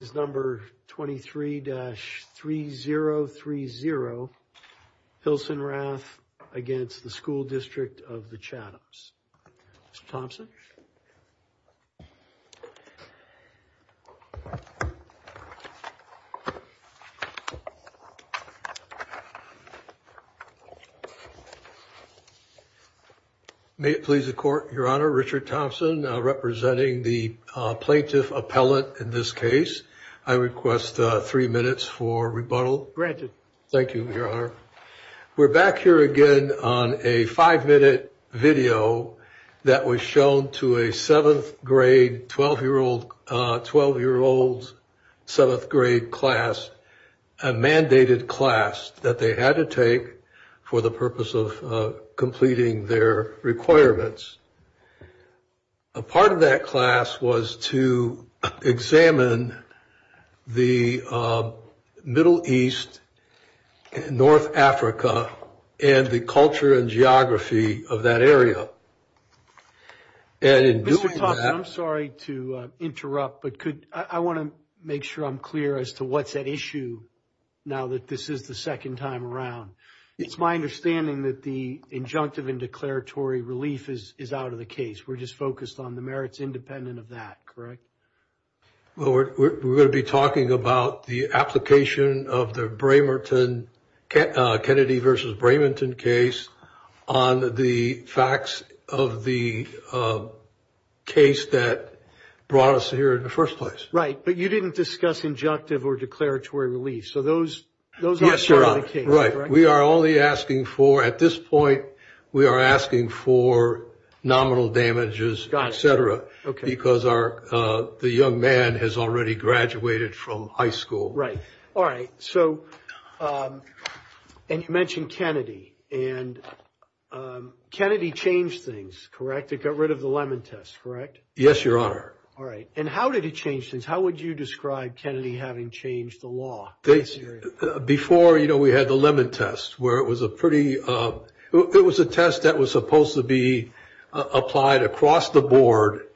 is number 23-3030 Hilsenrath against the School District of the Chathams. Mr. Thomson. May it please the court, your honor, Richard Thompson representing the plaintiff appellate in this case. I request three minutes for rebuttal. Granted. Thank you, your honor. We're back here again on a five minute video that was shown to a seventh grade 12 year old, 12 year olds, seventh grade class, a mandated class that they had to take for the purpose of completing their requirements. A part of that class was to examine the Middle East, North Africa, and the culture and geography of that area. I'm sorry to interrupt, but I want to make sure I'm clear as to what's at issue. Now that this is the second time around, it's my understanding that the injunctive and declaratory relief is out of the case. We're just focused on the merits independent of that, correct? Well, we're going to be talking about the application of the Kennedy versus Bramington case on the facts of the case that brought us here in the first place. But you didn't discuss injunctive or declaratory relief. So those are out of the case. Right. We are only asking for, at this point, we are asking for nominal damages, et cetera, because the young man has already graduated from high school. Right. All right. And you mentioned Kennedy and Kennedy changed things, correct? It got rid of the lemon test, correct? Yes, your honor. All right. And how did it change things? How would you describe Kennedy having changed the law? Before, you know, we had the lemon test where it was a pretty, it was a test that was supposed to be applied across the board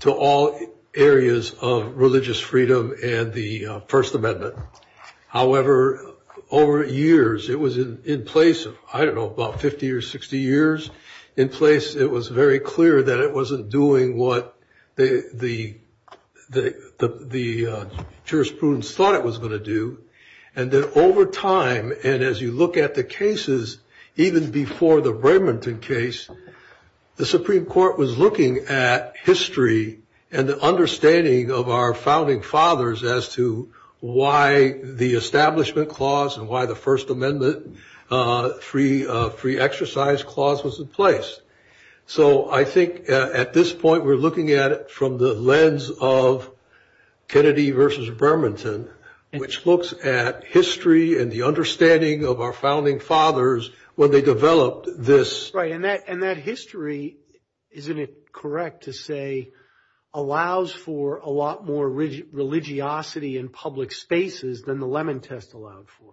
to all areas of religious freedom and the First Amendment. However, over years, it was in place, I don't know, about 50 or 60 years in place. It was very clear that it wasn't doing what the jurisprudence thought it was going to do. And then over time, and as you look at the cases, even before the Bramington case, the Supreme Court was looking at history and the understanding of our founding fathers as to why the Establishment Clause and why the First Amendment Free Exercise Clause was in place. So I think at this point, we're looking at it from the lens of Kennedy versus Bramington, which looks at history and the understanding of our founding fathers when they developed this. Right. And that history, isn't it correct to say, allows for a lot more religiosity in public spaces than the lemon test allowed for?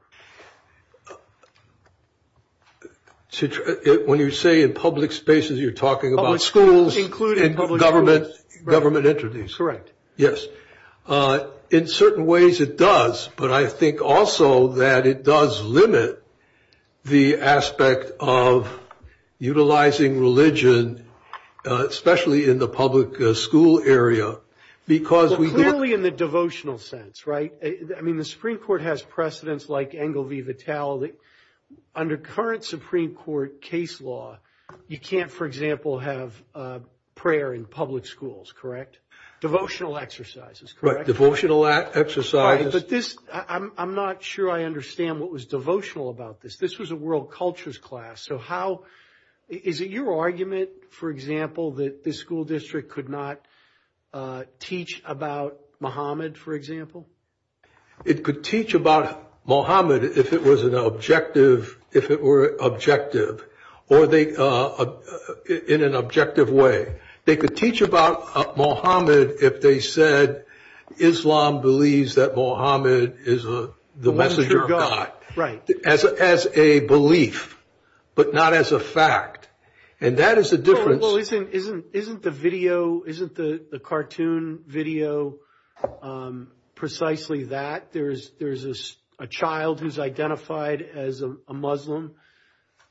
When you say in public spaces, you're talking about schools, including government, government entities, correct? Yes. In certain ways, it does. But I think also that it does limit the aspect of utilizing religion, especially in the public school area, because we... Clearly in the devotional sense, right? I mean, the Supreme Court has precedents like Engel v. Vitale. Under current Supreme Court case law, you can't, for example, have prayer in public schools, correct? Devotional exercises, correct? Right. Devotional exercises. But this, I'm not sure I understand what was devotional about this. This was a world cultures class. So how, is it your argument, for example, that this school district could not teach about Muhammad, for example? It could teach about Muhammad if it was an objective, if it were objective, or in an objective way. They could teach about Muhammad if they said, Islam believes that Muhammad is the messenger of God. Right. As a belief, but not as a fact. And that is the difference. Well, isn't the video, isn't the cartoon video precisely that? There's a child who's identified as a Muslim,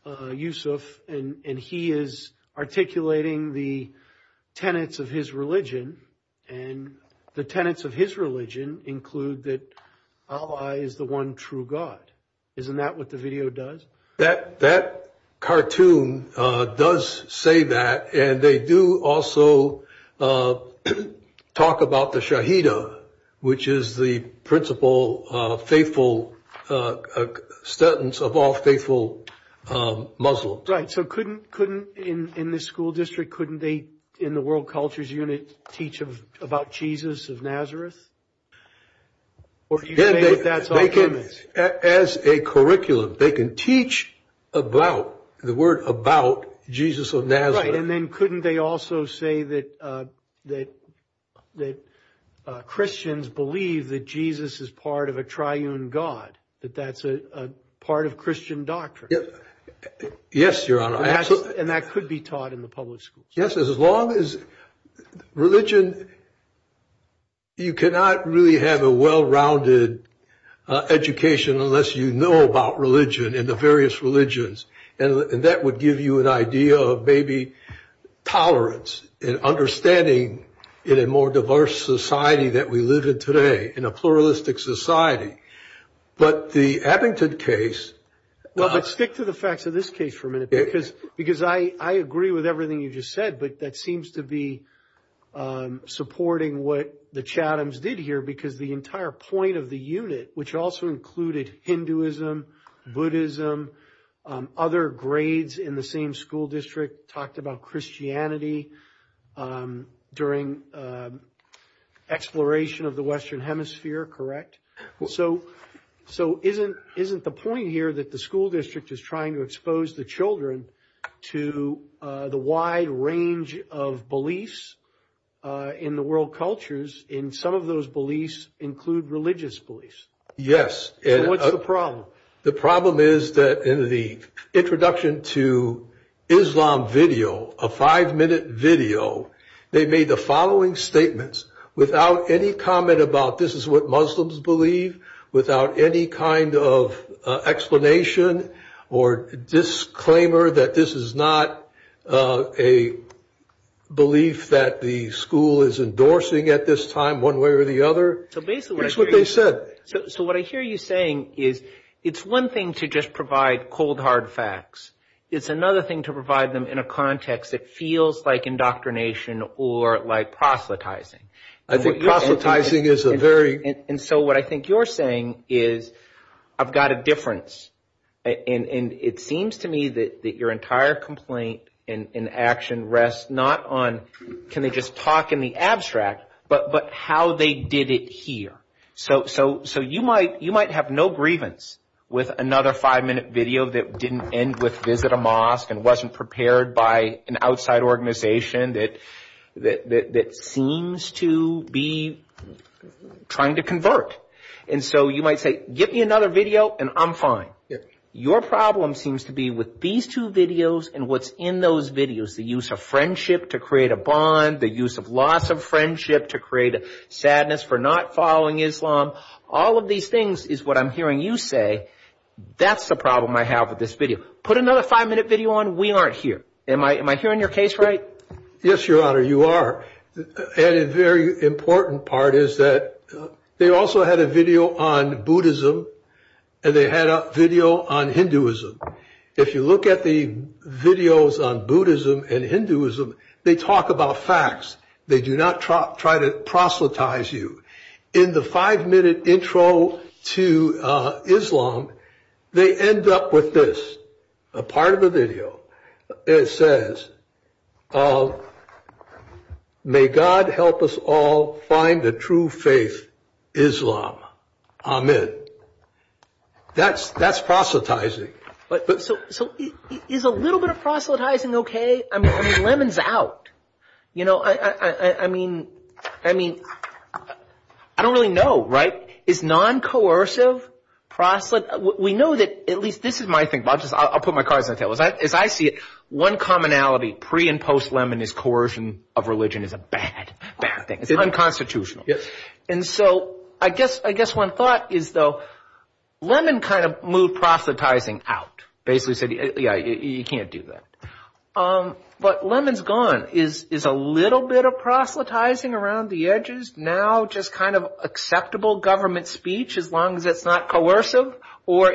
Yusuf, and he is articulating the tenets of his religion. And the tenets of his religion include that Allah is the one true God. Isn't that what the video does? That cartoon does say that. And they do also talk about the Shaheedah, which is the principal faithful, a sentence of all faithful Muslims. Right. So couldn't in this school district, couldn't they in the world cultures unit teach about Jesus of Nazareth? As a curriculum, they can teach about the word about Jesus of Nazareth. And then couldn't they also say that Christians believe that Jesus is part of a triune God, that that's a part of Christian doctrine? Yes, Your Honor. And that could be taught in the public schools. Yes, as long as religion, you cannot really have a well-rounded education unless you know about religion and the various tolerance and understanding in a more diverse society that we live in today, in a pluralistic society. But the Abington case. Well, let's stick to the facts of this case for a minute because because I agree with everything you just said. But that seems to be supporting what the Chathams did here, because the entire point of the unit, which also included Hinduism, Buddhism, other grades in the same school district, talked about Christianity during exploration of the Western Hemisphere. Correct. So so isn't isn't the point here that the school district is trying to expose the children to the wide range of beliefs in the world cultures in some of those beliefs include religious beliefs? Yes. What's the The problem is that in the introduction to Islam video, a five minute video, they made the following statements without any comment about this is what Muslims believe, without any kind of explanation or disclaimer that this is not a belief that the school is endorsing at this time one way or the other. So basically, that's what they said. So what I hear you saying is it's one thing to just provide cold, hard facts. It's another thing to provide them in a context that feels like indoctrination or like proselytizing. I think proselytizing is a very. And so what I think you're saying is I've got a difference. And it seems to me that your entire complaint in action rests not on can they just talk in the abstract, but but how they did it here. So so so you might you might have no grievance with another five minute video that didn't end with visit a mosque and wasn't prepared by an outside organization that that that seems to be trying to convert. And so you might say, give me another video and I'm fine. Your problem seems to be with these two videos and what's in those videos, the use of to create a bond, the use of loss of friendship to create a sadness for not following Islam. All of these things is what I'm hearing you say. That's the problem I have with this video. Put another five minute video on. We aren't here. Am I am I hearing your case right? Yes, your honor, you are. And a very important part is that they also had a video on Buddhism and they had a video on Hinduism. If you look at the videos on Buddhism and Hinduism, they talk about facts. They do not try to proselytize you in the five minute intro to Islam. They end up with this, a part of the video. It says, Oh, may God help us all find the true faith Islam. I'm in. That's that's proselytizing. But so is a little bit of proselytizing. OK, I mean, lemons out. You know, I mean, I mean, I don't really know. Right. Is non-coercive proselytize. We know that at least this is I'll put my cards on the table as I see it. One commonality pre and post lemon is coercion of religion is a bad, bad thing. It's unconstitutional. And so I guess I guess one thought is, though, lemon kind of move proselytizing out basically said, yeah, you can't do that. But lemons gone is is a little bit of proselytizing around the edges. Now, just kind of acceptable government speech, as long as it's not coercive or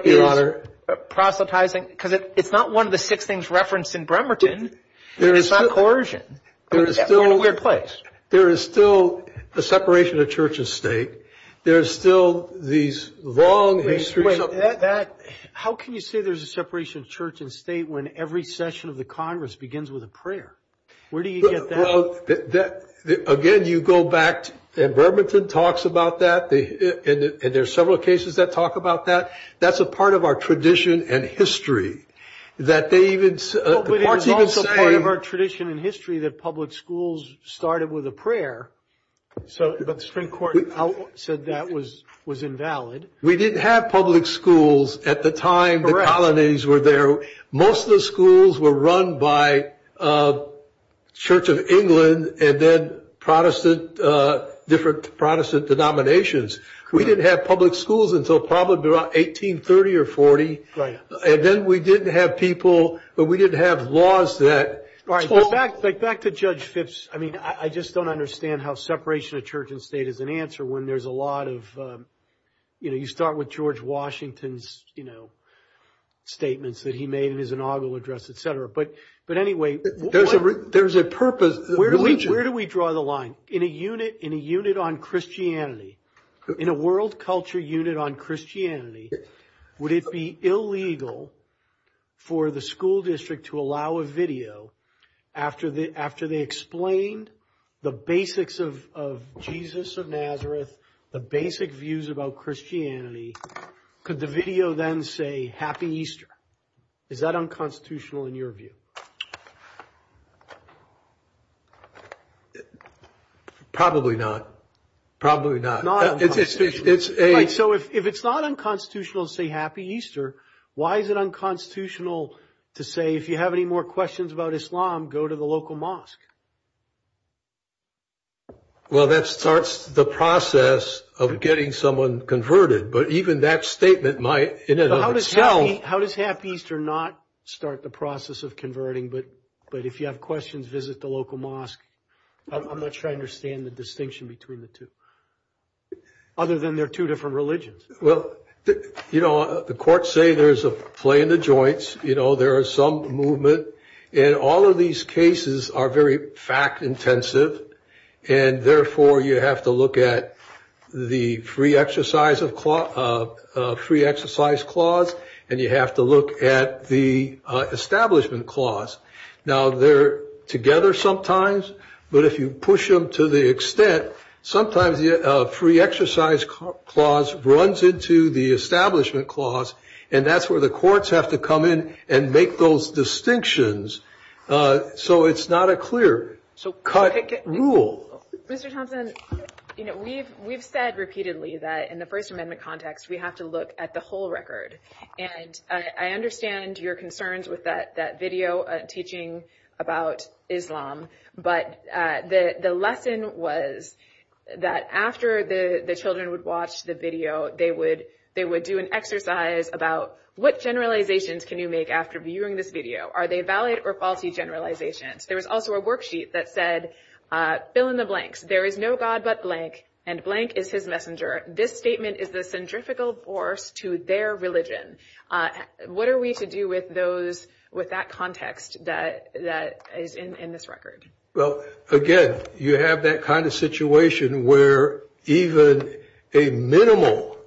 proselytizing, because it's not one of the six things referenced in Bremerton. There is coercion. There is still a place. There is still a separation of church and state. There's still these long history of that. How can you say there's a separation of church and state when every session of the Congress begins with a prayer? Where do you get that? Again, you go back and Bremerton talks about that. And there's several cases that talk about that. That's a part of our tradition and history that they even say of our tradition in history, that public schools started with a prayer. So the Supreme Court said that was was invalid. We didn't have public schools at the time the colonies were there. Most of the schools were run by Church of England and then Protestant, different Protestant denominations. We didn't have public schools until probably about 1830 or 40. Right. And then we didn't have people, but we didn't have laws that. All right. But back to Judge Phipps. I mean, I just don't understand how separation of church and state is an answer when there's a lot of, you know, you start with George Washington's, you know, statements that he made in his inaugural address, et cetera. But but anyway, there's a there's a purpose. Where do we draw the line in a unit, in a unit on Christianity, in a world culture unit on Christianity? Would it be illegal for the school district to allow a video after the after they explained the basics of of Jesus of Nazareth, the basic views about Christianity? Could the video then say Happy Easter? Is that unconstitutional in your view? Probably not. Probably not. It's a. So if it's not unconstitutional to say Happy Easter, why is it unconstitutional to say if you have any more questions about Islam, go to the local mosque? Well, that starts the process of getting someone converted. But even that statement might tell me how does Happy Easter not start the process of converting? But but if you have questions, visit the local mosque. I'm not sure I understand the distinction between the two. Other than there are two different religions. Well, you know, the courts say there's a play in the joints. You know, there are some movement and all of these cases are very fact intensive. And therefore, you have to look at the free exercise of free exercise clause and you have to look at the establishment clause. Now, they're together sometimes. But if you push them to the extent, sometimes the free exercise clause runs into the establishment clause. And that's where courts have to come in and make those distinctions. So it's not a clear cut rule. Mr. Thompson, you know, we've we've said repeatedly that in the First Amendment context, we have to look at the whole record. And I understand your concerns with that video teaching about Islam. But the lesson was that after the children would watch the video, they would they would do an exercise about what generalizations can you make after viewing this video? Are they valid or faulty generalizations? There was also a worksheet that said, fill in the blanks. There is no God but blank and blank is his messenger. This statement is the centrifugal force to their religion. What are we to do with those with that context that that is in this record? Well, again, you have that kind of situation where even a minimal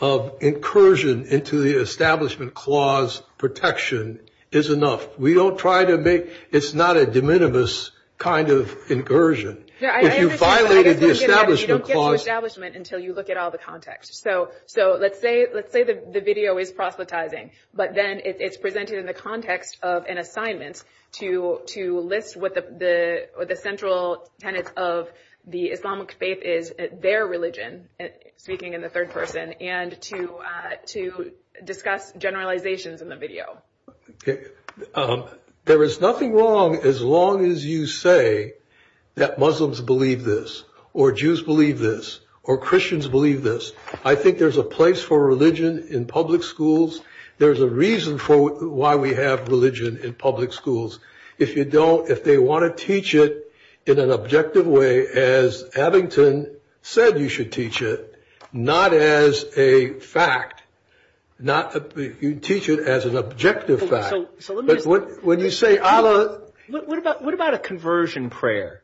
of incursion into the establishment clause protection is enough. We don't try to make it's not a de minimis kind of incursion. You violated the establishment clause establishment until you look at all the context. So so let's say let's say the video is proselytizing, but then it's presented in the context of an assignment to to list what the the central tenets of the Islamic faith is, their religion, speaking in the third person and to to discuss generalizations in the video. There is nothing wrong as long as you say that Muslims believe this or Jews believe this or Christians believe this. I think there's a place for religion in public schools. There's a reason for why we have religion in public schools. If you don't, if they want to teach it in an objective way, as Abington said, you should teach it not as a fact, not teach it as an objective fact. So when you say Allah, what about what about a conversion prayer?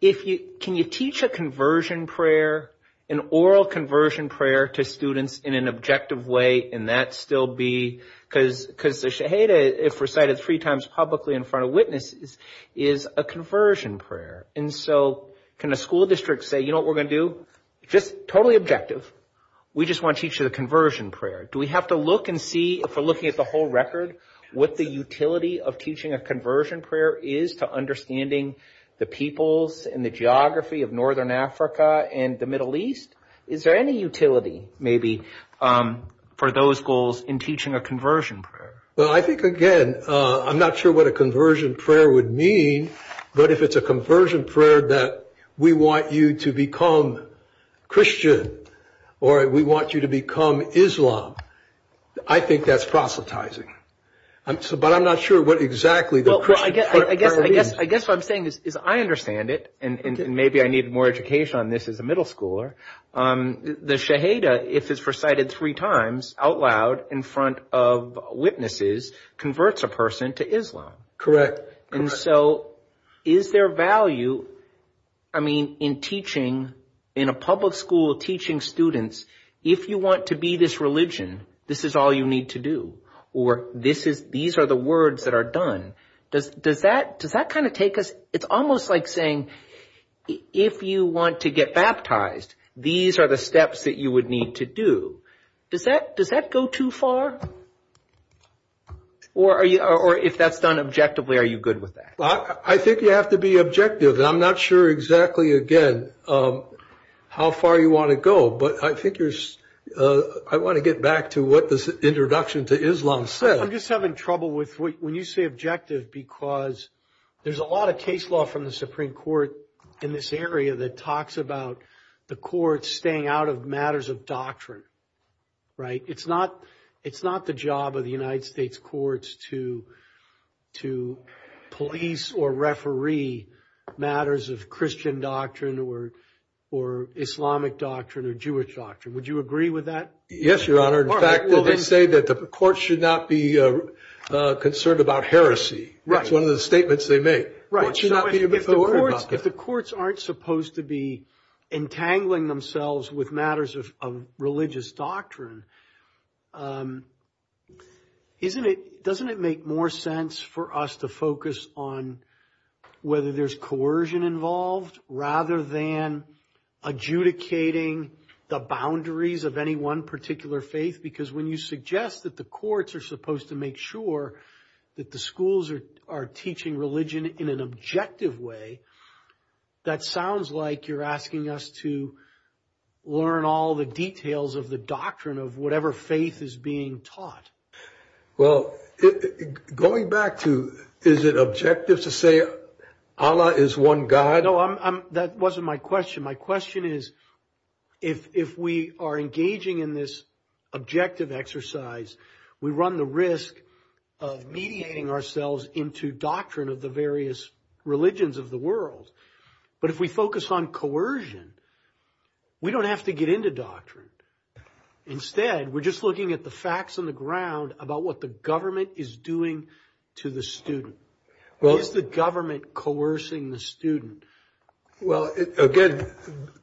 If you can, you teach a conversion prayer, an oral conversion prayer to students in an objective way. And that's still be because because they say, hey, if recited three times publicly in front of witnesses is a conversion prayer. And so can a school district say, you know, we're going to do just totally objective. We just want each of the conversion prayer. Do we have to look and see if we're looking at the whole record, what the utility of teaching a conversion prayer is to understanding the peoples and the geography of northern Africa and the Middle East? Is there any utility maybe for those goals in teaching a conversion prayer? Well, I think, again, I'm not sure what a conversion prayer would mean. But if it's a conversion prayer that we want you to become Christian or we want you to become Islam, I think that's proselytizing. But I'm not sure what exactly the I guess I guess I guess what I'm saying is I understand it. And maybe I need more education on this as a middle schooler. The Shahada, if it's recited three times out loud in front of witnesses, converts a person to Islam. Correct. And so is there value? I mean, in teaching in a public school teaching students, if you want to be this religion, this is all you need to do. Or this is these are the words that are done. Does does that does that kind of take us? It's almost like saying if you want to get baptized, these are the steps that you would need to do. Does that does that go too far? Or are you or if that's done objectively, are you good with that? I think you have to be objective. I'm not sure exactly again how far you want to go. But I think I want to get back to what this introduction to Islam said. I'm just having trouble with when you say objective, because there's a lot of case law from the Supreme Court in this area that talks about the courts staying out of matters of doctrine. Right. It's not it's not the job of the United States courts to to police or referee matters of Christian doctrine or or Islamic doctrine or Jewish doctrine. Would you agree with that? Yes, your honor. In fact, they say that the court should not be concerned about heresy. That's one of the statements they make. Right. If the courts aren't supposed to be entangling themselves with matters of religious doctrine. Isn't it doesn't it make more sense for us to focus on whether there's coercion involved rather than adjudicating the boundaries of any one particular faith? Because when you suggest that the courts are supposed to make sure that the schools are teaching religion in an objective way, that sounds like you're asking us to learn all the details of the doctrine of whatever faith is being taught. Well, going back to is it objective to say Allah is one God? No, I'm that wasn't my question. My question is, if we are engaging in this objective exercise, we run the risk of mediating ourselves into doctrine of the various religions of the world. But if we focus on coercion, we don't have to get into doctrine. Instead, we're just looking at the facts on the ground about what the government is doing to the student. Well, is the government coercing the student? Well, again,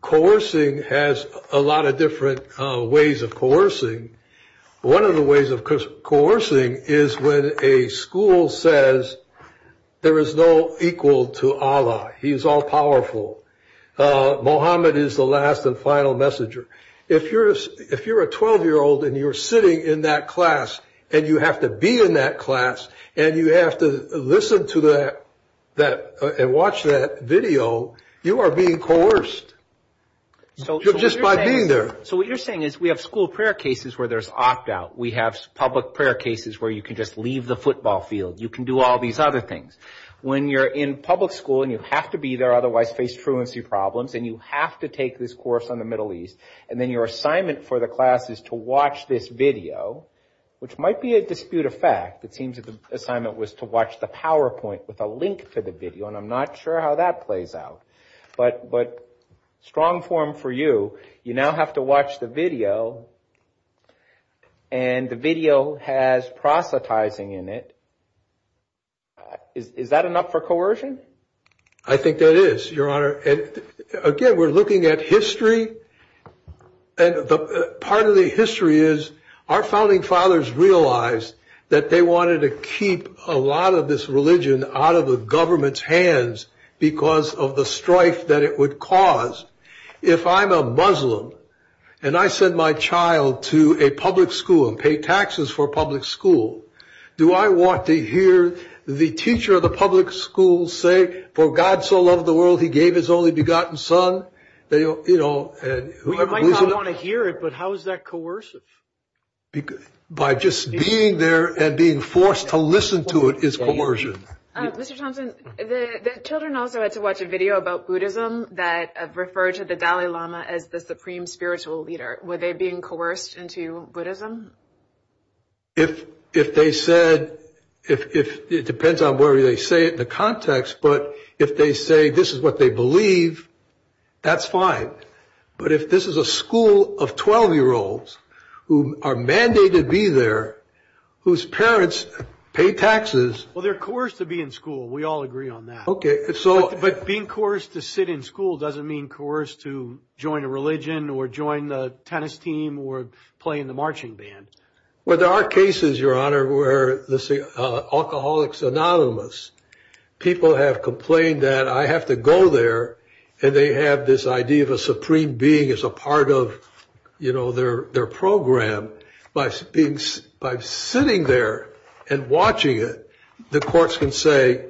coercing has a lot of different ways of coercing. One of the ways of coercing is when a school says there is no equal to Allah. He is all powerful. Muhammad is the last and final messenger. If you're if you're a 12 year old and you're sitting in that class and you have to be in that class and you have to listen to the that and watch that video, you are being coerced. So just by being there. So what you're saying is we have school prayer cases where there's opt out. We have public prayer cases where you can just leave the football field. You can do all these other things when you're in public school and you have to be there. Otherwise face truancy problems and you have to take this course on the Middle East. And then your assignment for the class is to watch this video, which might be a dispute of fact. It seems that the assignment was to watch the PowerPoint with a link to the video. And I'm not sure how that plays out. But but strong form for you. You now have to watch the video and the video has proselytizing in it. Is that enough for I think that is your honor. And again, we're looking at history. And part of the history is our founding fathers realized that they wanted to keep a lot of this religion out of the government's hands because of the strife that it would cause. If I'm a Muslim and I send my child to a public school, do I want to hear the teacher of the public school say, for God so loved the world, he gave his only begotten son that, you know, I want to hear it. But how is that coercive? By just being there and being forced to listen to it is coercion. Mr. Thompson, the children also had to watch a video about Buddhism that referred to the Dalai Lama as the supreme spiritual leader. Were they being coerced into Buddhism? If if they said if it depends on where they say it, the context, but if they say this is what they believe, that's fine. But if this is a school of 12 year olds who are mandated to be there, whose parents pay taxes. Well, they're coerced to be in school. We all agree on that. OK, so but being coerced to sit in school doesn't mean coerced to join a religion or join the tennis team or play in the marching band. Well, there are cases, your honor, where, let's say, Alcoholics Anonymous, people have complained that I have to go there and they have this idea of a supreme being as a part of, you know, their their program by being by sitting there and watching it. The courts can say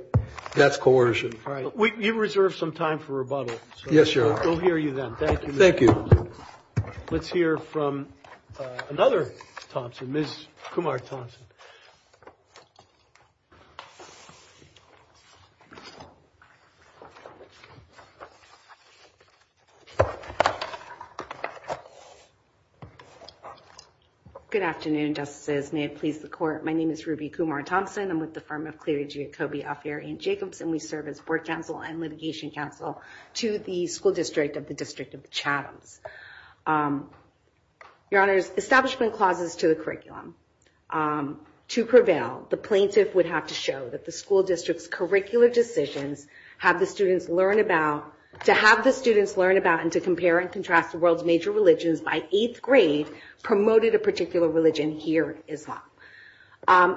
that's coercion. We reserve some time for rebuttal. Yes, your honor. We'll hear you then. Thank you. Thank you. Let's hear from another Thompson, Ms. Kumar Thompson. Good afternoon, justices. May it please the court. My name is Ruby Kumar Thompson. I'm with the firm of Cleary G. Akobe Alferian Jacobson. We serve as board counsel and litigation counsel to the school district of the District of Chathams. Your honors, establishment clauses to the curriculum. To prevail, the plaintiff would have to show that the school district's curricular decisions have the students learn about, to have the students learn about and to compare and contrast the world's major religions by eighth grade promoted a particular religion here, Islam.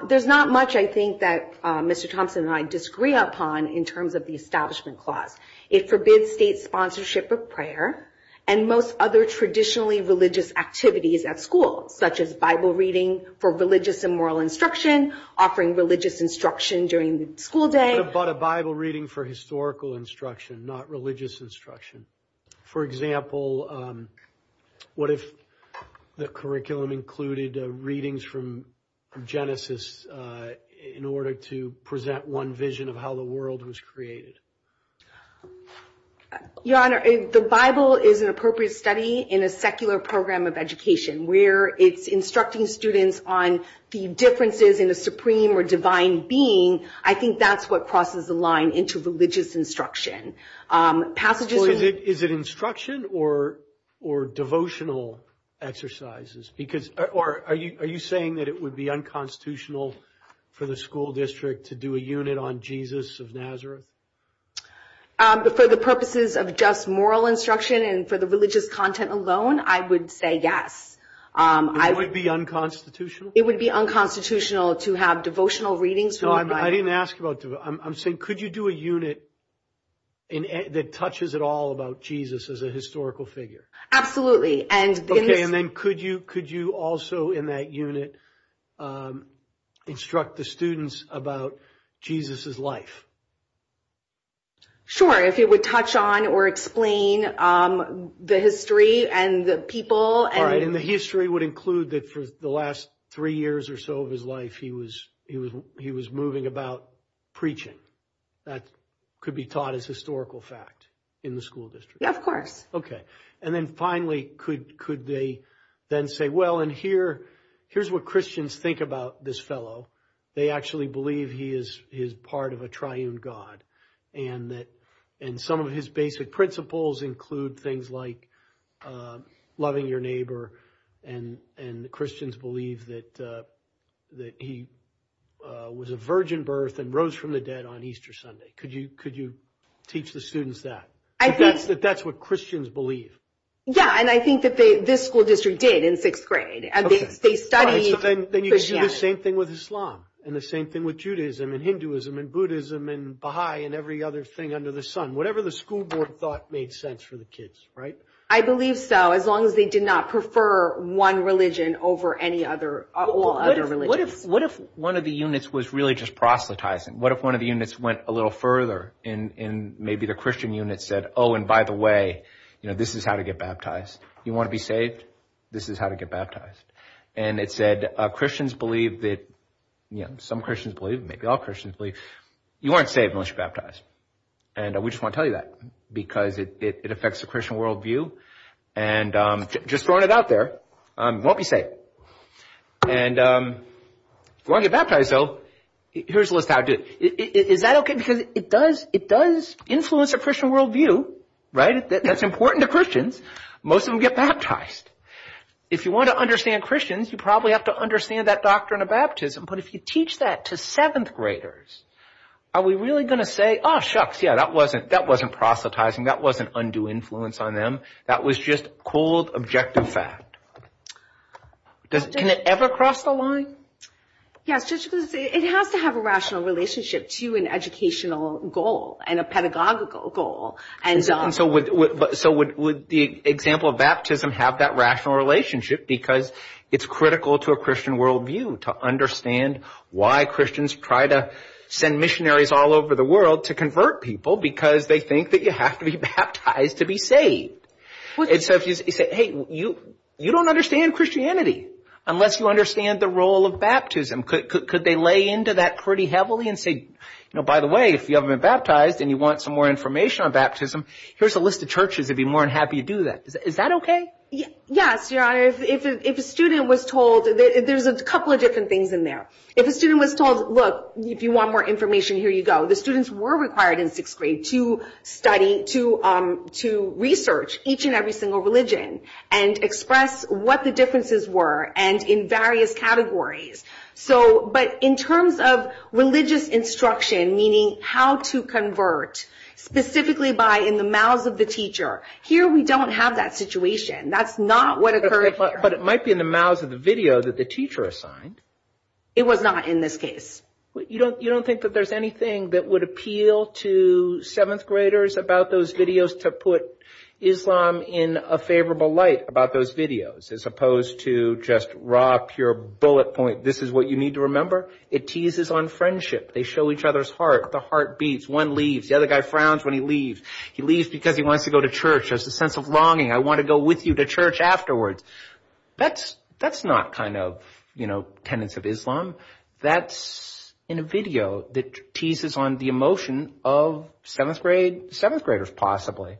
There's not much I think that Mr. Thompson and I disagree upon in terms of the establishment clause. It forbids state sponsorship of prayer and most other traditionally religious activities at school, such as Bible reading for religious and moral instruction, offering religious instruction during the school day. But a Bible reading for historical instruction, not religious instruction. For example, what if the curriculum included readings from Genesis in order to present one vision of how the world was created? Your honor, the Bible is an appropriate study in a secular program of education where it's instructing students on the differences in a supreme or divine being. I think that's what crosses the line into religious instruction. Is it instruction or devotional exercises? Are you saying that it would be unconstitutional for the school district to do a unit on Jesus of Nazareth? For the purposes of just moral instruction and for the religious content alone, I would say yes. It would be unconstitutional? It would be unconstitutional to have devotional readings? No, I didn't ask about devotional. I'm saying, could you do a unit that touches at all about Jesus as a historical figure? Absolutely. Okay, and then could you also in that unit instruct the students about Jesus's life? Sure, if it would touch on or explain the history and the people. And the history would include that for the last three years or so of his life, he was moving about preaching. That could be taught as historical fact in the school district. Yeah, of course. Okay, and then finally, could they then say, well, and here's what Christians think about this fellow. They actually believe he is part of a triune God and some of his basic principles include things like loving your neighbor and the Christians believe that he was a virgin birth and rose from the dead on Easter Sunday. Could you teach the students that? That's what Christians believe. Yeah, and I think that this school district did in sixth grade and they studied All right, so then you could do the same thing with Islam and the same thing with Judaism and Hinduism and Buddhism and Baha'i and every other thing under the sun. Whatever the school board thought made sense for the kids, right? I believe so, as long as they did not prefer one religion over any other. What if one of the units was really just proselytizing? What if one of the units went a little further and maybe the Christian unit said, oh, and by the way, you know, this is how to get baptized. You want to be saved? This is how to get baptized. And it said, Christians believe that, you know, some Christians believe, maybe all Christians believe you aren't saved unless you're baptized. And we just want to tell you that because it affects the Christian worldview and just throwing it out there, won't be saved. And if you want to get baptized though, here's a list how to do it. Is that okay? Because it does influence the Christian worldview, right? That's important to Christians. Most of them get baptized. If you want to understand Christians, you probably have to understand that doctrine of baptism. But if you teach that to seventh graders, are we really going to say, oh, shucks. Yeah, that wasn't proselytizing. That wasn't undue influence on them. That was just cold, objective fact. Can it ever cross the line? Yes, it has to have a rational relationship to an educational goal and a pedagogical goal. And so would the example of baptism have that rational relationship because it's critical to Christian worldview to understand why Christians try to send missionaries all over the world to convert people because they think that you have to be baptized to be saved. And so if you say, hey, you, you don't understand Christianity unless you understand the role of baptism. Could they lay into that pretty heavily and say, you know, by the way, if you haven't been baptized and you want some more information on baptism, here's a list of churches that'd be more than to do that. Is that OK? Yes, your honor. If a student was told that there's a couple of different things in there, if a student was told, look, if you want more information, here you go. The students were required in sixth grade to study, to to research each and every single religion and express what the differences were and in various categories. So but in terms of religious instruction, meaning how to convert specifically by in the mouths of the teacher here, we don't have that situation. That's not what occurred. But it might be in the mouths of the video that the teacher assigned. It was not in this case. You don't you don't think that there's anything that would appeal to seventh graders about those videos to put Islam in a favorable light about those videos as opposed to just rock your bullet point. This is what you need to remember. It teases on friendship. They show each other's heart. The heart beats. One leaves. The other guy frowns when he leaves. He leaves because he wants to go to church as a sense of longing. I want to go with you to church afterwards. That's that's not kind of, you know, tenets of Islam. That's in a video that teases on the emotion of seventh grade, seventh graders possibly.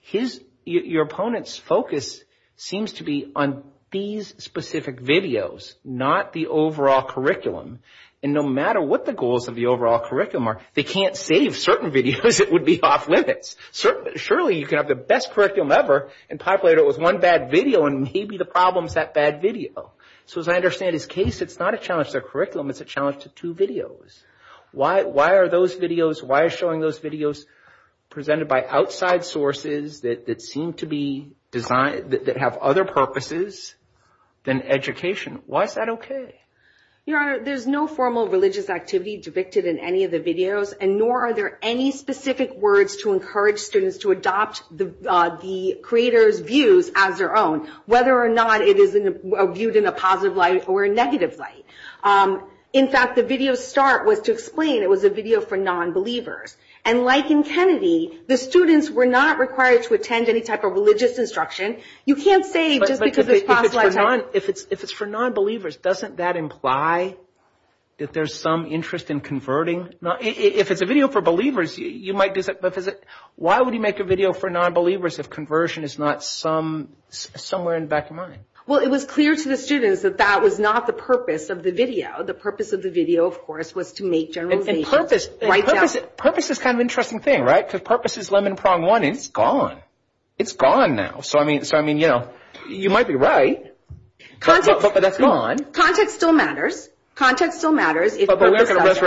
His your opponent's focus seems to be on these specific videos, not the overall curriculum. And no matter what the goals of the overall curriculum are, they can't save certain videos. It would be off limits. Certainly. Surely you can have the best curriculum ever and populate it with one bad video and maybe the problems that bad video. So as I understand his case, it's not a challenge to curriculum. It's a challenge to two videos. Why? Why are those videos? Why are showing those videos presented by outside sources that seem to be designed that have other purposes than education? Why is that OK? Your Honor, there's no formal religious activity depicted in any of the videos, and nor are there any specific words to encourage students to adopt the creator's views as their own, whether or not it is viewed in a positive light or a negative light. In fact, the video start was to explain it was a video for nonbelievers. And like in Kennedy, the students were not required to attend any type of religious instruction. You can't say just because if it's for nonbelievers, doesn't that imply that there's some interest in converting? If it's a video for believers, you might. Why would you make a video for nonbelievers if conversion is not some somewhere in the back of the video? The purpose of the video, of course, was to make generalizations. Purpose is kind of an interesting thing, right? Because purpose is lemon prong one, and it's gone. It's gone now. So I mean, you know, you might be right, but that's gone. Context still matters. Context still matters. But we aren't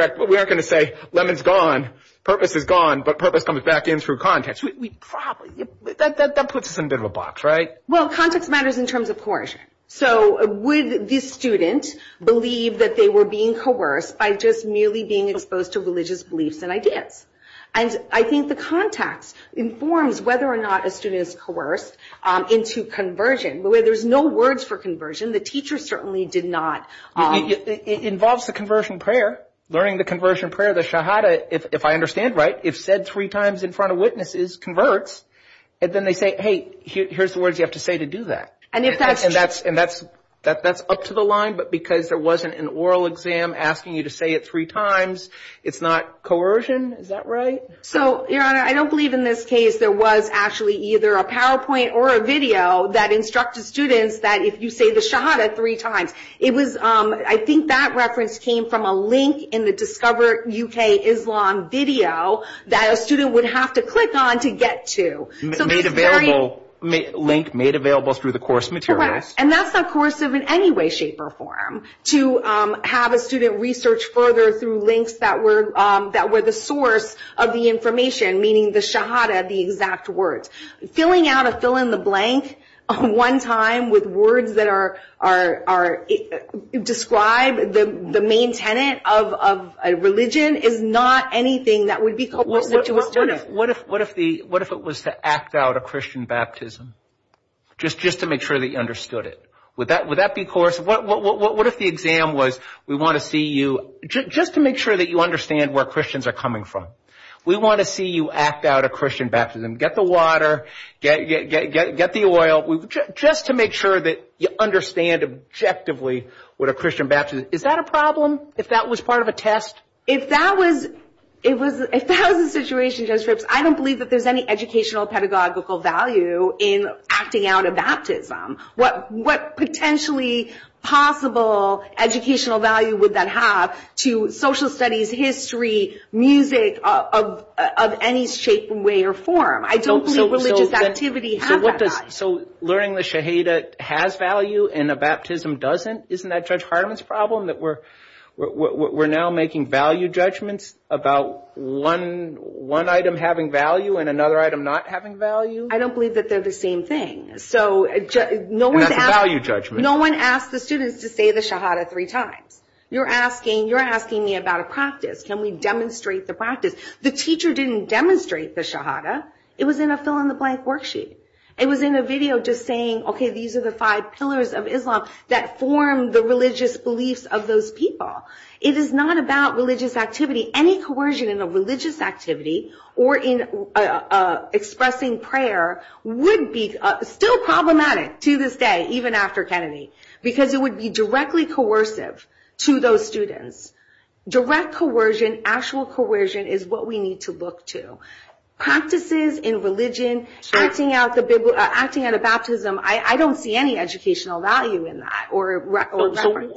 going to say lemon's gone, purpose is gone, but purpose comes back in through context. That puts us in a bit of a box, right? Well, context matters in terms of coercion. So would this student believe that they were being coerced by just merely being exposed to religious beliefs and ideas? And I think the context informs whether or not a student is coerced into conversion, but where there's no words for conversion, the teacher certainly did not. It involves the conversion prayer, learning the conversion prayer, the shahada, if I understand right, if said three times in front of witnesses converts, and then they say, hey, here's the that's up to the line, but because there wasn't an oral exam asking you to say it three times, it's not coercion. Is that right? So, Your Honor, I don't believe in this case there was actually either a PowerPoint or a video that instructed students that if you say the shahada three times, it was, I think that reference came from a link in the Discover UK Islam video that a student would have to click on to get to. Made available, link made available through the course materials. And that's not coercive in any way, shape, or form to have a student research further through links that were that were the source of the information, meaning the shahada, the exact words, filling out a fill in the blank one time with words that are are are describe the main tenet of a religion is not anything that would be coerced into a student. What if what if the what if it was to act out a Christian baptism just just to make sure that you understood it? Would that would that be coercive? What if the exam was we want to see you just to make sure that you understand where Christians are coming from. We want to see you act out a Christian baptism. Get the water, get get get get the oil just to make sure that you understand objectively what a Christian baptism is. Is that a problem? If that was part of a test, if that was it was if that was the situation, Judge Ripps, I don't believe that there's any educational pedagogical value in acting out a baptism. What what potentially possible educational value would that have to social studies, history, music of of any shape, way, or form? I don't believe religious activity has that. So learning the shahada has value and a baptism doesn't? Isn't that Judge Hartman's problem that we're we're now making value judgments about one one item having value and another item not having value? I don't believe that they're the same thing. So no one's value judgment. No one asked the students to say the shahada three times. You're asking you're asking me about a practice. Can we demonstrate the practice? The teacher didn't demonstrate the shahada. It was in a fill in the blank worksheet. It was in a video just OK, these are the five pillars of Islam that form the religious beliefs of those people. It is not about religious activity. Any coercion in a religious activity or in expressing prayer would be still problematic to this day, even after Kennedy, because it would be directly coercive to those students. Direct coercion, actual coercion is what we need to look to practices in religion, acting out the Bible, acting out a baptism. I don't see any educational value in that or.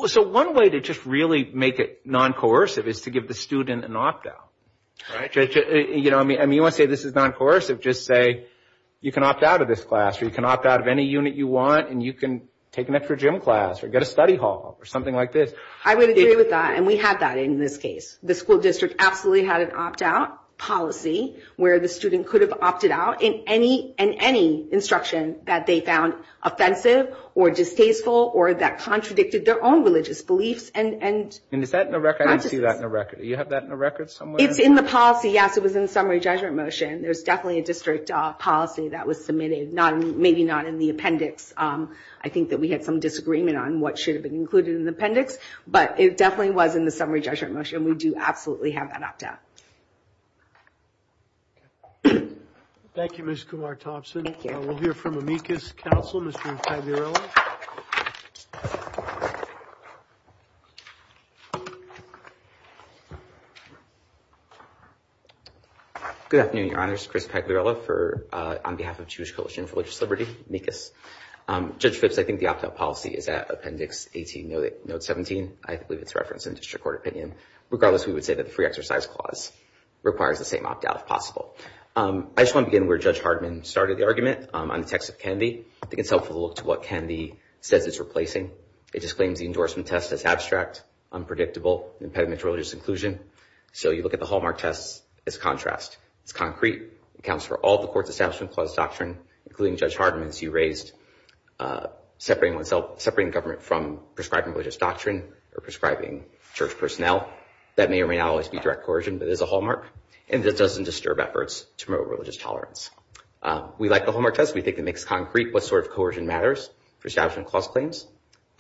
So one way to just really make it non-coercive is to give the student an opt out. You know, I mean, I mean, let's say this is non-coercive. Just say you can opt out of this class or you can opt out of any unit you want and you can take an extra gym class or get a study hall or something like this. I would agree with that. And we had that in this case. The school where the student could have opted out in any and any instruction that they found offensive or distasteful or that contradicted their own religious beliefs. And is that in the record? I didn't see that in the record. You have that in the record somewhere? It's in the policy. Yes, it was in the summary judgment motion. There's definitely a district policy that was submitted, not maybe not in the appendix. I think that we had some disagreement on what should have been included in the appendix, but it definitely was in the summary judgment motion. We do absolutely have that opt out. Thank you, Ms. Kumar-Thompson. We'll hear from amicus counsel, Mr. Pagliarella. Good afternoon, your honors. Chris Pagliarella on behalf of Jewish Coalition for Religious Liberty, amicus. Judge Phipps, I think the opt out policy is at appendix 18, note 17. I believe it's clause requires the same opt out if possible. I just want to begin where Judge Hardman started the argument on the text of Kennedy. I think it's helpful to look to what Kennedy says it's replacing. It just claims the endorsement test as abstract, unpredictable, impediment to religious inclusion. So you look at the Hallmark test as contrast. It's concrete, accounts for all the court's establishment clause doctrine, including Judge Hardman's you raised separating government from prescribing religious doctrine or prescribing church personnel. That may or may not always be direct coercion, but it is a Hallmark, and it doesn't disturb efforts to promote religious tolerance. We like the Hallmark test. We think it makes concrete what sort of coercion matters for establishment clause claims.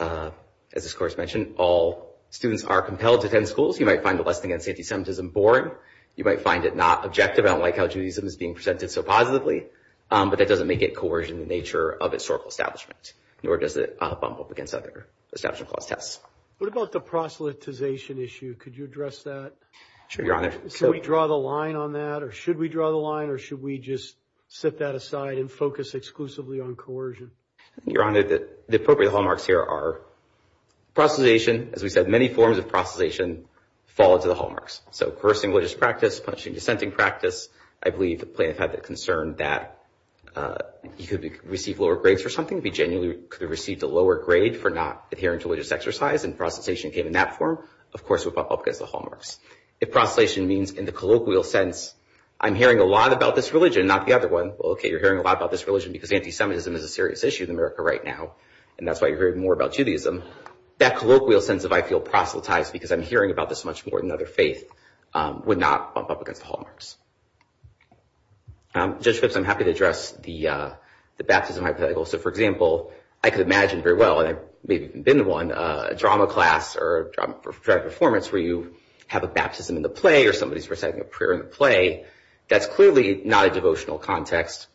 As this course mentioned, all students are compelled to attend schools. You might find the lesson against antisemitism boring. You might find it not objective. I don't like how Judaism is being presented so positively, but that doesn't make it coercion in the nature of historical establishment, nor does it bump up against other establishment clause tests. What about the proselytization issue? Could you address that? Should we draw the line on that, or should we draw the line, or should we just set that aside and focus exclusively on coercion? Your Honor, the appropriate Hallmarks here are proselytization. As we said, many forms of proselytization fall into the Hallmarks. So coercing religious practice, punishing dissenting practice. I believe the plaintiff had the concern that he could receive lower grades for something. He genuinely could have received a lower grade for not adhering to religious exercise, and proselytization came in that form. Of course, it would bump up against the Hallmarks. If proselytization means in the colloquial sense, I'm hearing a lot about this religion, not the other one. Well, okay, you're hearing a lot about this religion because antisemitism is a serious issue in America right now, and that's why you heard more about Judaism. That colloquial sense of I feel proselytized because I'm hearing about this much more than other faith would not bump up against the Hallmarks. Judge Phipps, I'm happy to address the baptism hypothetical. So for example, I could imagine very well, and I've maybe even been to one, a drama class or a drama performance where you have a baptism in the play or somebody's reciting a prayer in the play. That's clearly not a devotional context,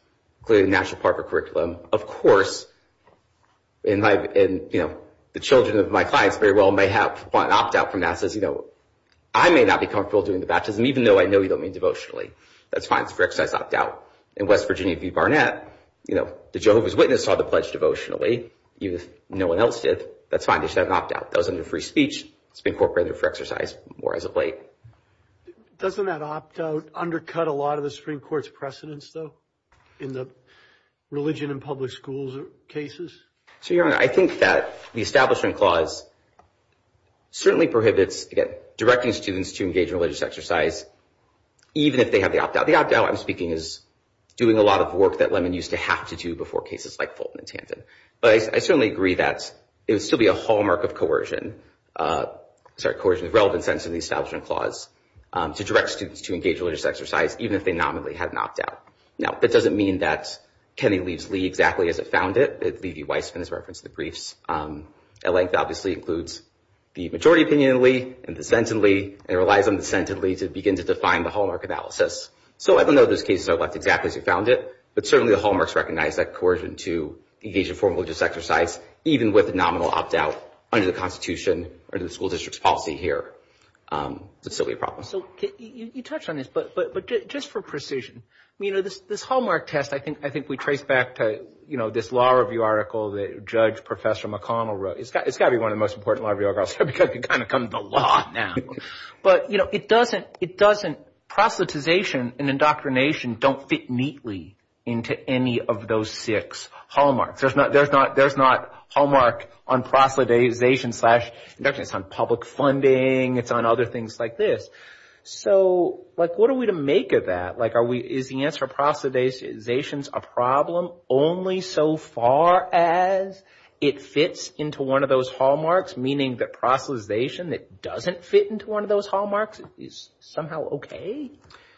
clearly a National Park curriculum. Of course, and the children of my clients very well may have an opt-out from that, says, I may not be comfortable doing the baptism, even though I know you don't mean devotionally. That's fine, it's for exercise opt-out. In West Virginia v. Barnett, the Jehovah's Witness saw the pledge devotionally, even if no one else did. That's fine, they should have an opt-out. That was under free speech. It's been incorporated for exercise more as of late. Doesn't that opt-out undercut a in the religion in public schools or cases? So, Your Honor, I think that the Establishment Clause certainly prohibits, again, directing students to engage in religious exercise, even if they have the opt-out. The opt-out I'm speaking is doing a lot of work that Lemon used to have to do before cases like Fulton and Tandon. But I certainly agree that it would still be a hallmark of coercion, sorry, coercion in the relevant sense of the Establishment Clause, to direct students to engage religious exercise, even if they nominally had an opt-out. Now, that doesn't mean that Kennedy leaves Lee exactly as it found it. It's Levi Weissman, as referenced in the briefs. At length, obviously, includes the majority opinion in Lee, and dissented Lee, and it relies on dissented Lee to begin to define the hallmark analysis. So I don't know if those cases are left exactly as you found it, but certainly the hallmarks recognize that coercion to engage in formal religious exercise, even with a nominal opt-out under the Constitution or the school district's policy here, would still be a problem. So you touched on this, but just for precision, this hallmark test, I think we trace back to this law review article that Judge Professor McConnell wrote. It's got to be one of the most important law review articles, because we've kind of come to the law now. But it doesn't, it doesn't, proselytization and indoctrination don't fit neatly into any of those six hallmarks. There's not hallmark on proselytization slash indoctrination. It's on public funding. It's on other things like this. So what are we to make of that? Is the answer proselytization a problem only so far as it fits into one of those hallmarks, meaning that proselytization that doesn't fit into one of those hallmarks is somehow okay?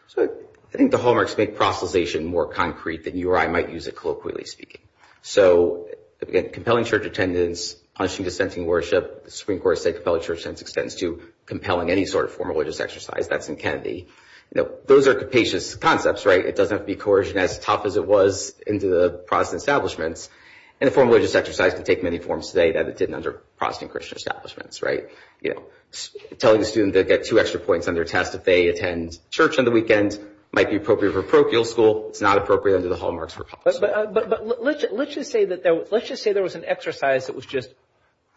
So I think the hallmarks make proselytization more concrete than you or I might use it colloquially speaking. So again, compelling church attendance, punishing dissenting worship, the Supreme Court has said compelling church attendance extends to compelling any sort of formal religious exercise. That's in Kennedy. Those are capacious concepts, right? It doesn't have to be coercion as tough as it was into the Protestant establishments. And a formal religious exercise can take many forms today that it didn't under Protestant Christian establishments, right? Telling a student to get two extra points on their test if they attend church on the weekend might be appropriate for parochial school. It's not appropriate under the hallmarks for public school. But let's just say there was an exercise that was just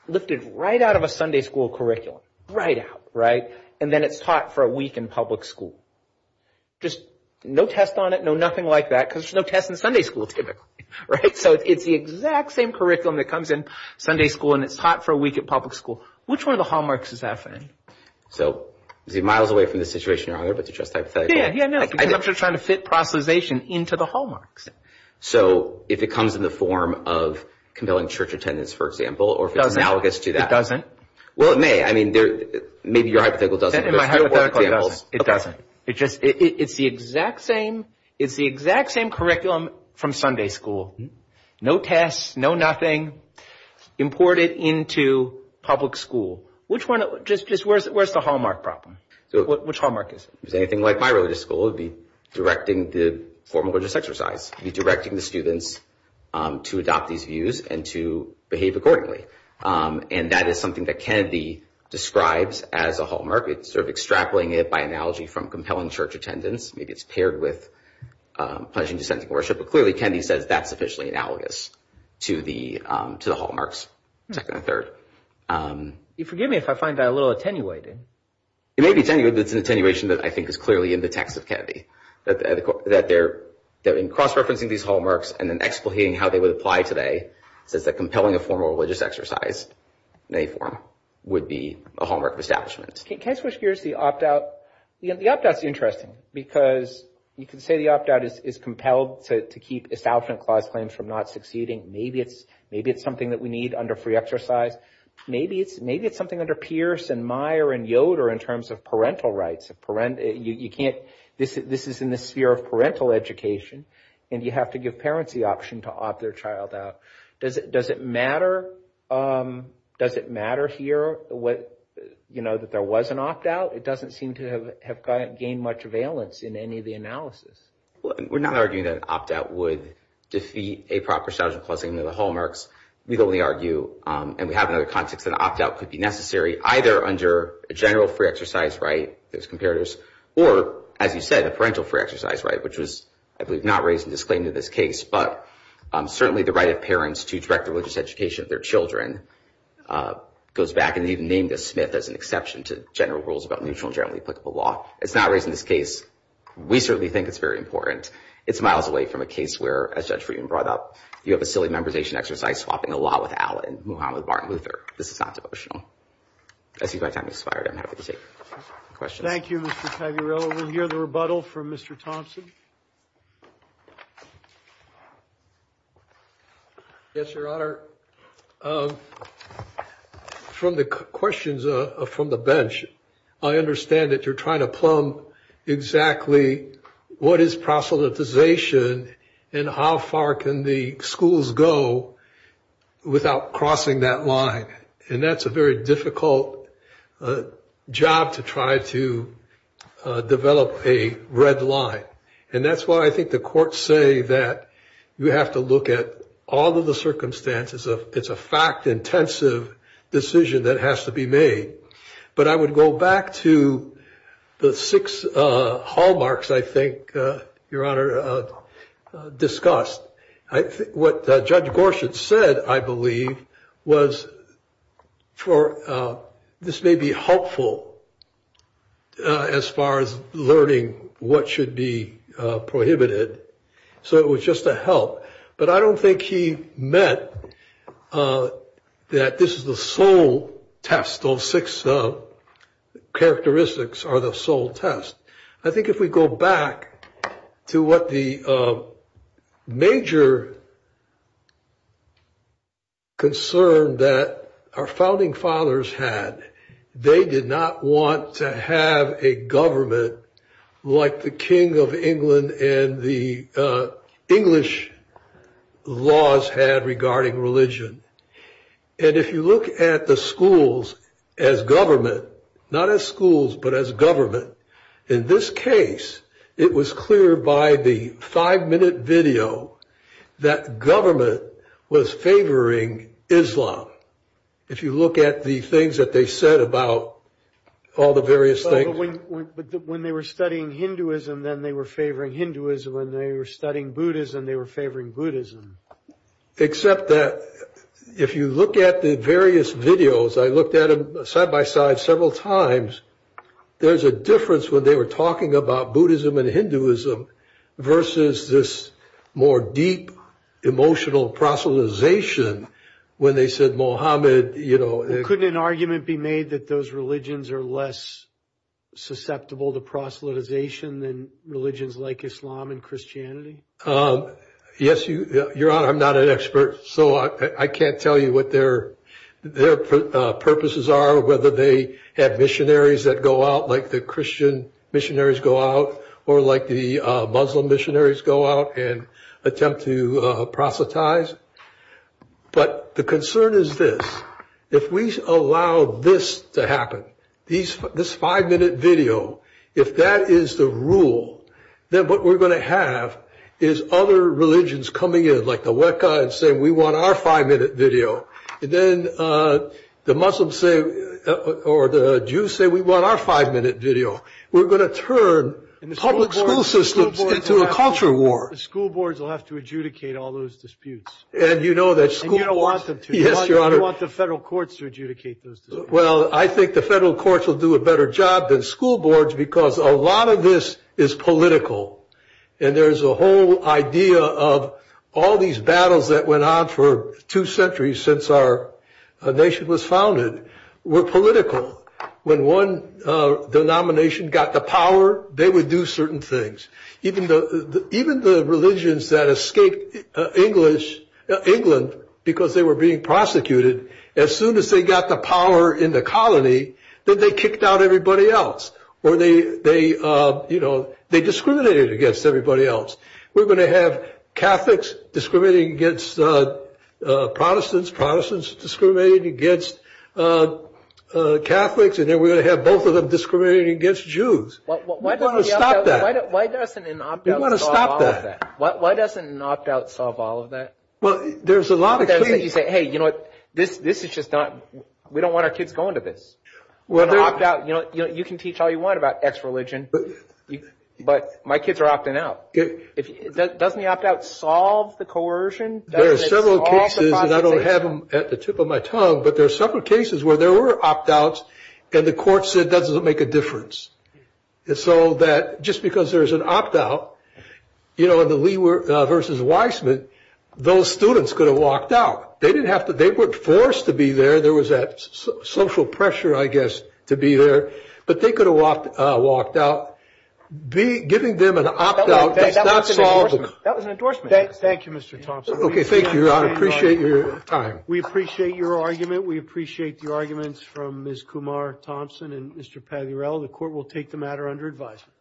lifted right out of a Sunday school curriculum, right out, right? And then it's taught for a week in public school. Just no test on it, no nothing like that because there's no test in Sunday school typically, right? So it's the exact same curriculum that comes in Sunday school and it's taught for a week at public school. Which one of the hallmarks is that thing? So is it miles away from the situation, Your Honor, but it's just hypothetical? Yeah, yeah, no. I'm just trying to fit proselytization into the hallmarks. So if it comes in the form of compelling church attendance, for example, or if it's analogous to that. It doesn't. Well, it may. I mean, maybe your hypothetical doesn't. It doesn't. It's the exact same. It's the exact same curriculum from Sunday school. No tests, no nothing imported into public school. Which one? Just where's the hallmark problem? Which hallmark is it? If it was anything like my religious school, it would be directing the formal religious exercise, be directing the students to adopt these views and to behave accordingly. And that is something that Kennedy describes as a hallmark. It's sort of extrapolating it by analogy from compelling church attendance. Maybe it's paired with pledging to ascending worship. But clearly, Kennedy says that's sufficiently analogous to the hallmarks, second and third. Forgive me if I find that a little attenuating. It may be attenuating, but it's an attenuation that I think is clearly in the text of Kennedy, that they're in cross-referencing these hallmarks and then explicating how they would apply to that says that compelling a formal religious exercise in any form would be a hallmark of establishment. Can I switch gears to the opt-out? The opt-out's interesting because you can say the opt-out is compelled to keep establishment clause claims from not succeeding. Maybe it's something that we need under free exercise. Maybe it's something under Pierce and Meyer and Yoder in terms of parental rights. You can't, this is in the sphere of parental education and you have to give parents the option to opt their child out. Does it matter here that there was an opt-out? It doesn't seem to have gained much valence in any of the analysis. We're not arguing that an opt-out would defeat a proper statute of clause in the hallmarks. We'd only argue, and we have another context, that an opt-out could be necessary either under a general free exercise right, those comparators, or as you said, a parental free exercise right, which was, I believe, not raised in disclaim to this case, but certainly the right of parents to direct the religious education of their children goes back and even named a Smith as an exception to general rules about neutral and generally applicable law. It's not raised in this case. We certainly think it's very important. It's miles away from a case where, as Judge Friedman brought up, you have a silly memorization exercise swapping a law with Allen, move on with Martin Luther. This is not devotional. I see my time has expired. I'm happy to take questions. Thank you, Mr. Tagliarello. We'll hear the rebuttal from Mr. Thompson. Yes, Your Honor. From the questions from the bench, I understand that you're trying to plumb exactly what is proselytization and how far can the schools go without crossing that line. And that's a very difficult job to try to develop a red line. And that's why I think the courts say that you have to look at all of the circumstances of it's a fact intensive decision that has to be made. But I would go back to the six hallmarks, I think, Your Honor, discussed. I think what Judge Gorsuch said, I believe, was for this may be helpful as far as learning what should be prohibited. So it was just a help. But I don't think he meant that this is the sole test, those six characteristics are the sole test. I think if we go back to what the major concern that our founding fathers had, they did not want to have a government like the King of England and the English laws had regarding religion. And if you look at the schools as government, not as schools, but as government, in this case, it was clear by the five minute video that government was favoring Islam. If you look at the things that they said about all the various things when they were studying Hinduism, then they were favoring Hinduism and they were studying Buddhism, they were favoring Buddhism. Except that if you look at the various videos, I looked at them side by side several times, there's a difference when they were talking about Buddhism and Hinduism versus this more deep emotional proselytization when they said Mohammed, you know. Couldn't an argument be made that those religions are less susceptible to proselytization than religions like Islam and Christianity? Yes, Your Honor, I'm not an expert, so I can't tell you what their purposes are, whether they have missionaries that go out like the Christian missionaries go out or like the Muslim missionaries go out and attempt to proselytize. But the concern is this, if we allow this to happen, this five minute video, if that is the rule, then what we're going to have is other religions coming in like the Weka and saying, we want our five minute video. And then the Muslims say, or the Jews say, we want our five minute video. We're going to turn public school systems into a culture war. The school boards will have to adjudicate all those disputes. And you know that Yes, Your Honor. You want the federal courts to adjudicate those? Well, I think the federal courts will do a better job than school boards because a lot of this is political. And there is a whole idea of all these battles that went on for two centuries since our nation was founded were political. When one denomination got the power, they would do Even the religions that escaped England because they were being prosecuted, as soon as they got the power in the colony, then they kicked out everybody else. Or they discriminated against everybody else. We're going to have Catholics discriminating against Protestants, Protestants discriminating against Catholics, and then we're going to have both of them discriminating against Jews. Why doesn't an opt out solve all of that? Why doesn't an opt out solve all of that? Well, there's a lot of things that you say, hey, you know what, this is just not, we don't want our kids going to this. You can teach all you want about ex-religion, but my kids are opting out. Doesn't the opt out solve the coercion? There are several cases, and I don't have them at the tip of my tongue, but there are several cases where there were opt outs, and the court said that doesn't make a difference. So that just because there's an opt out, you know, in the Lee versus Weissman, those students could have walked out. They didn't have to, they weren't forced to be there. There was that social pressure, I guess, to be there, but they could have walked out. Giving them an opt out does not solve it. That was an endorsement. Thank you, Mr. Thompson. Okay, thank you. I appreciate your time. We appreciate your argument. We appreciate the arguments from Ms. Kumar Thompson and Mr. Pagliarell. The court will take the matter under advisement.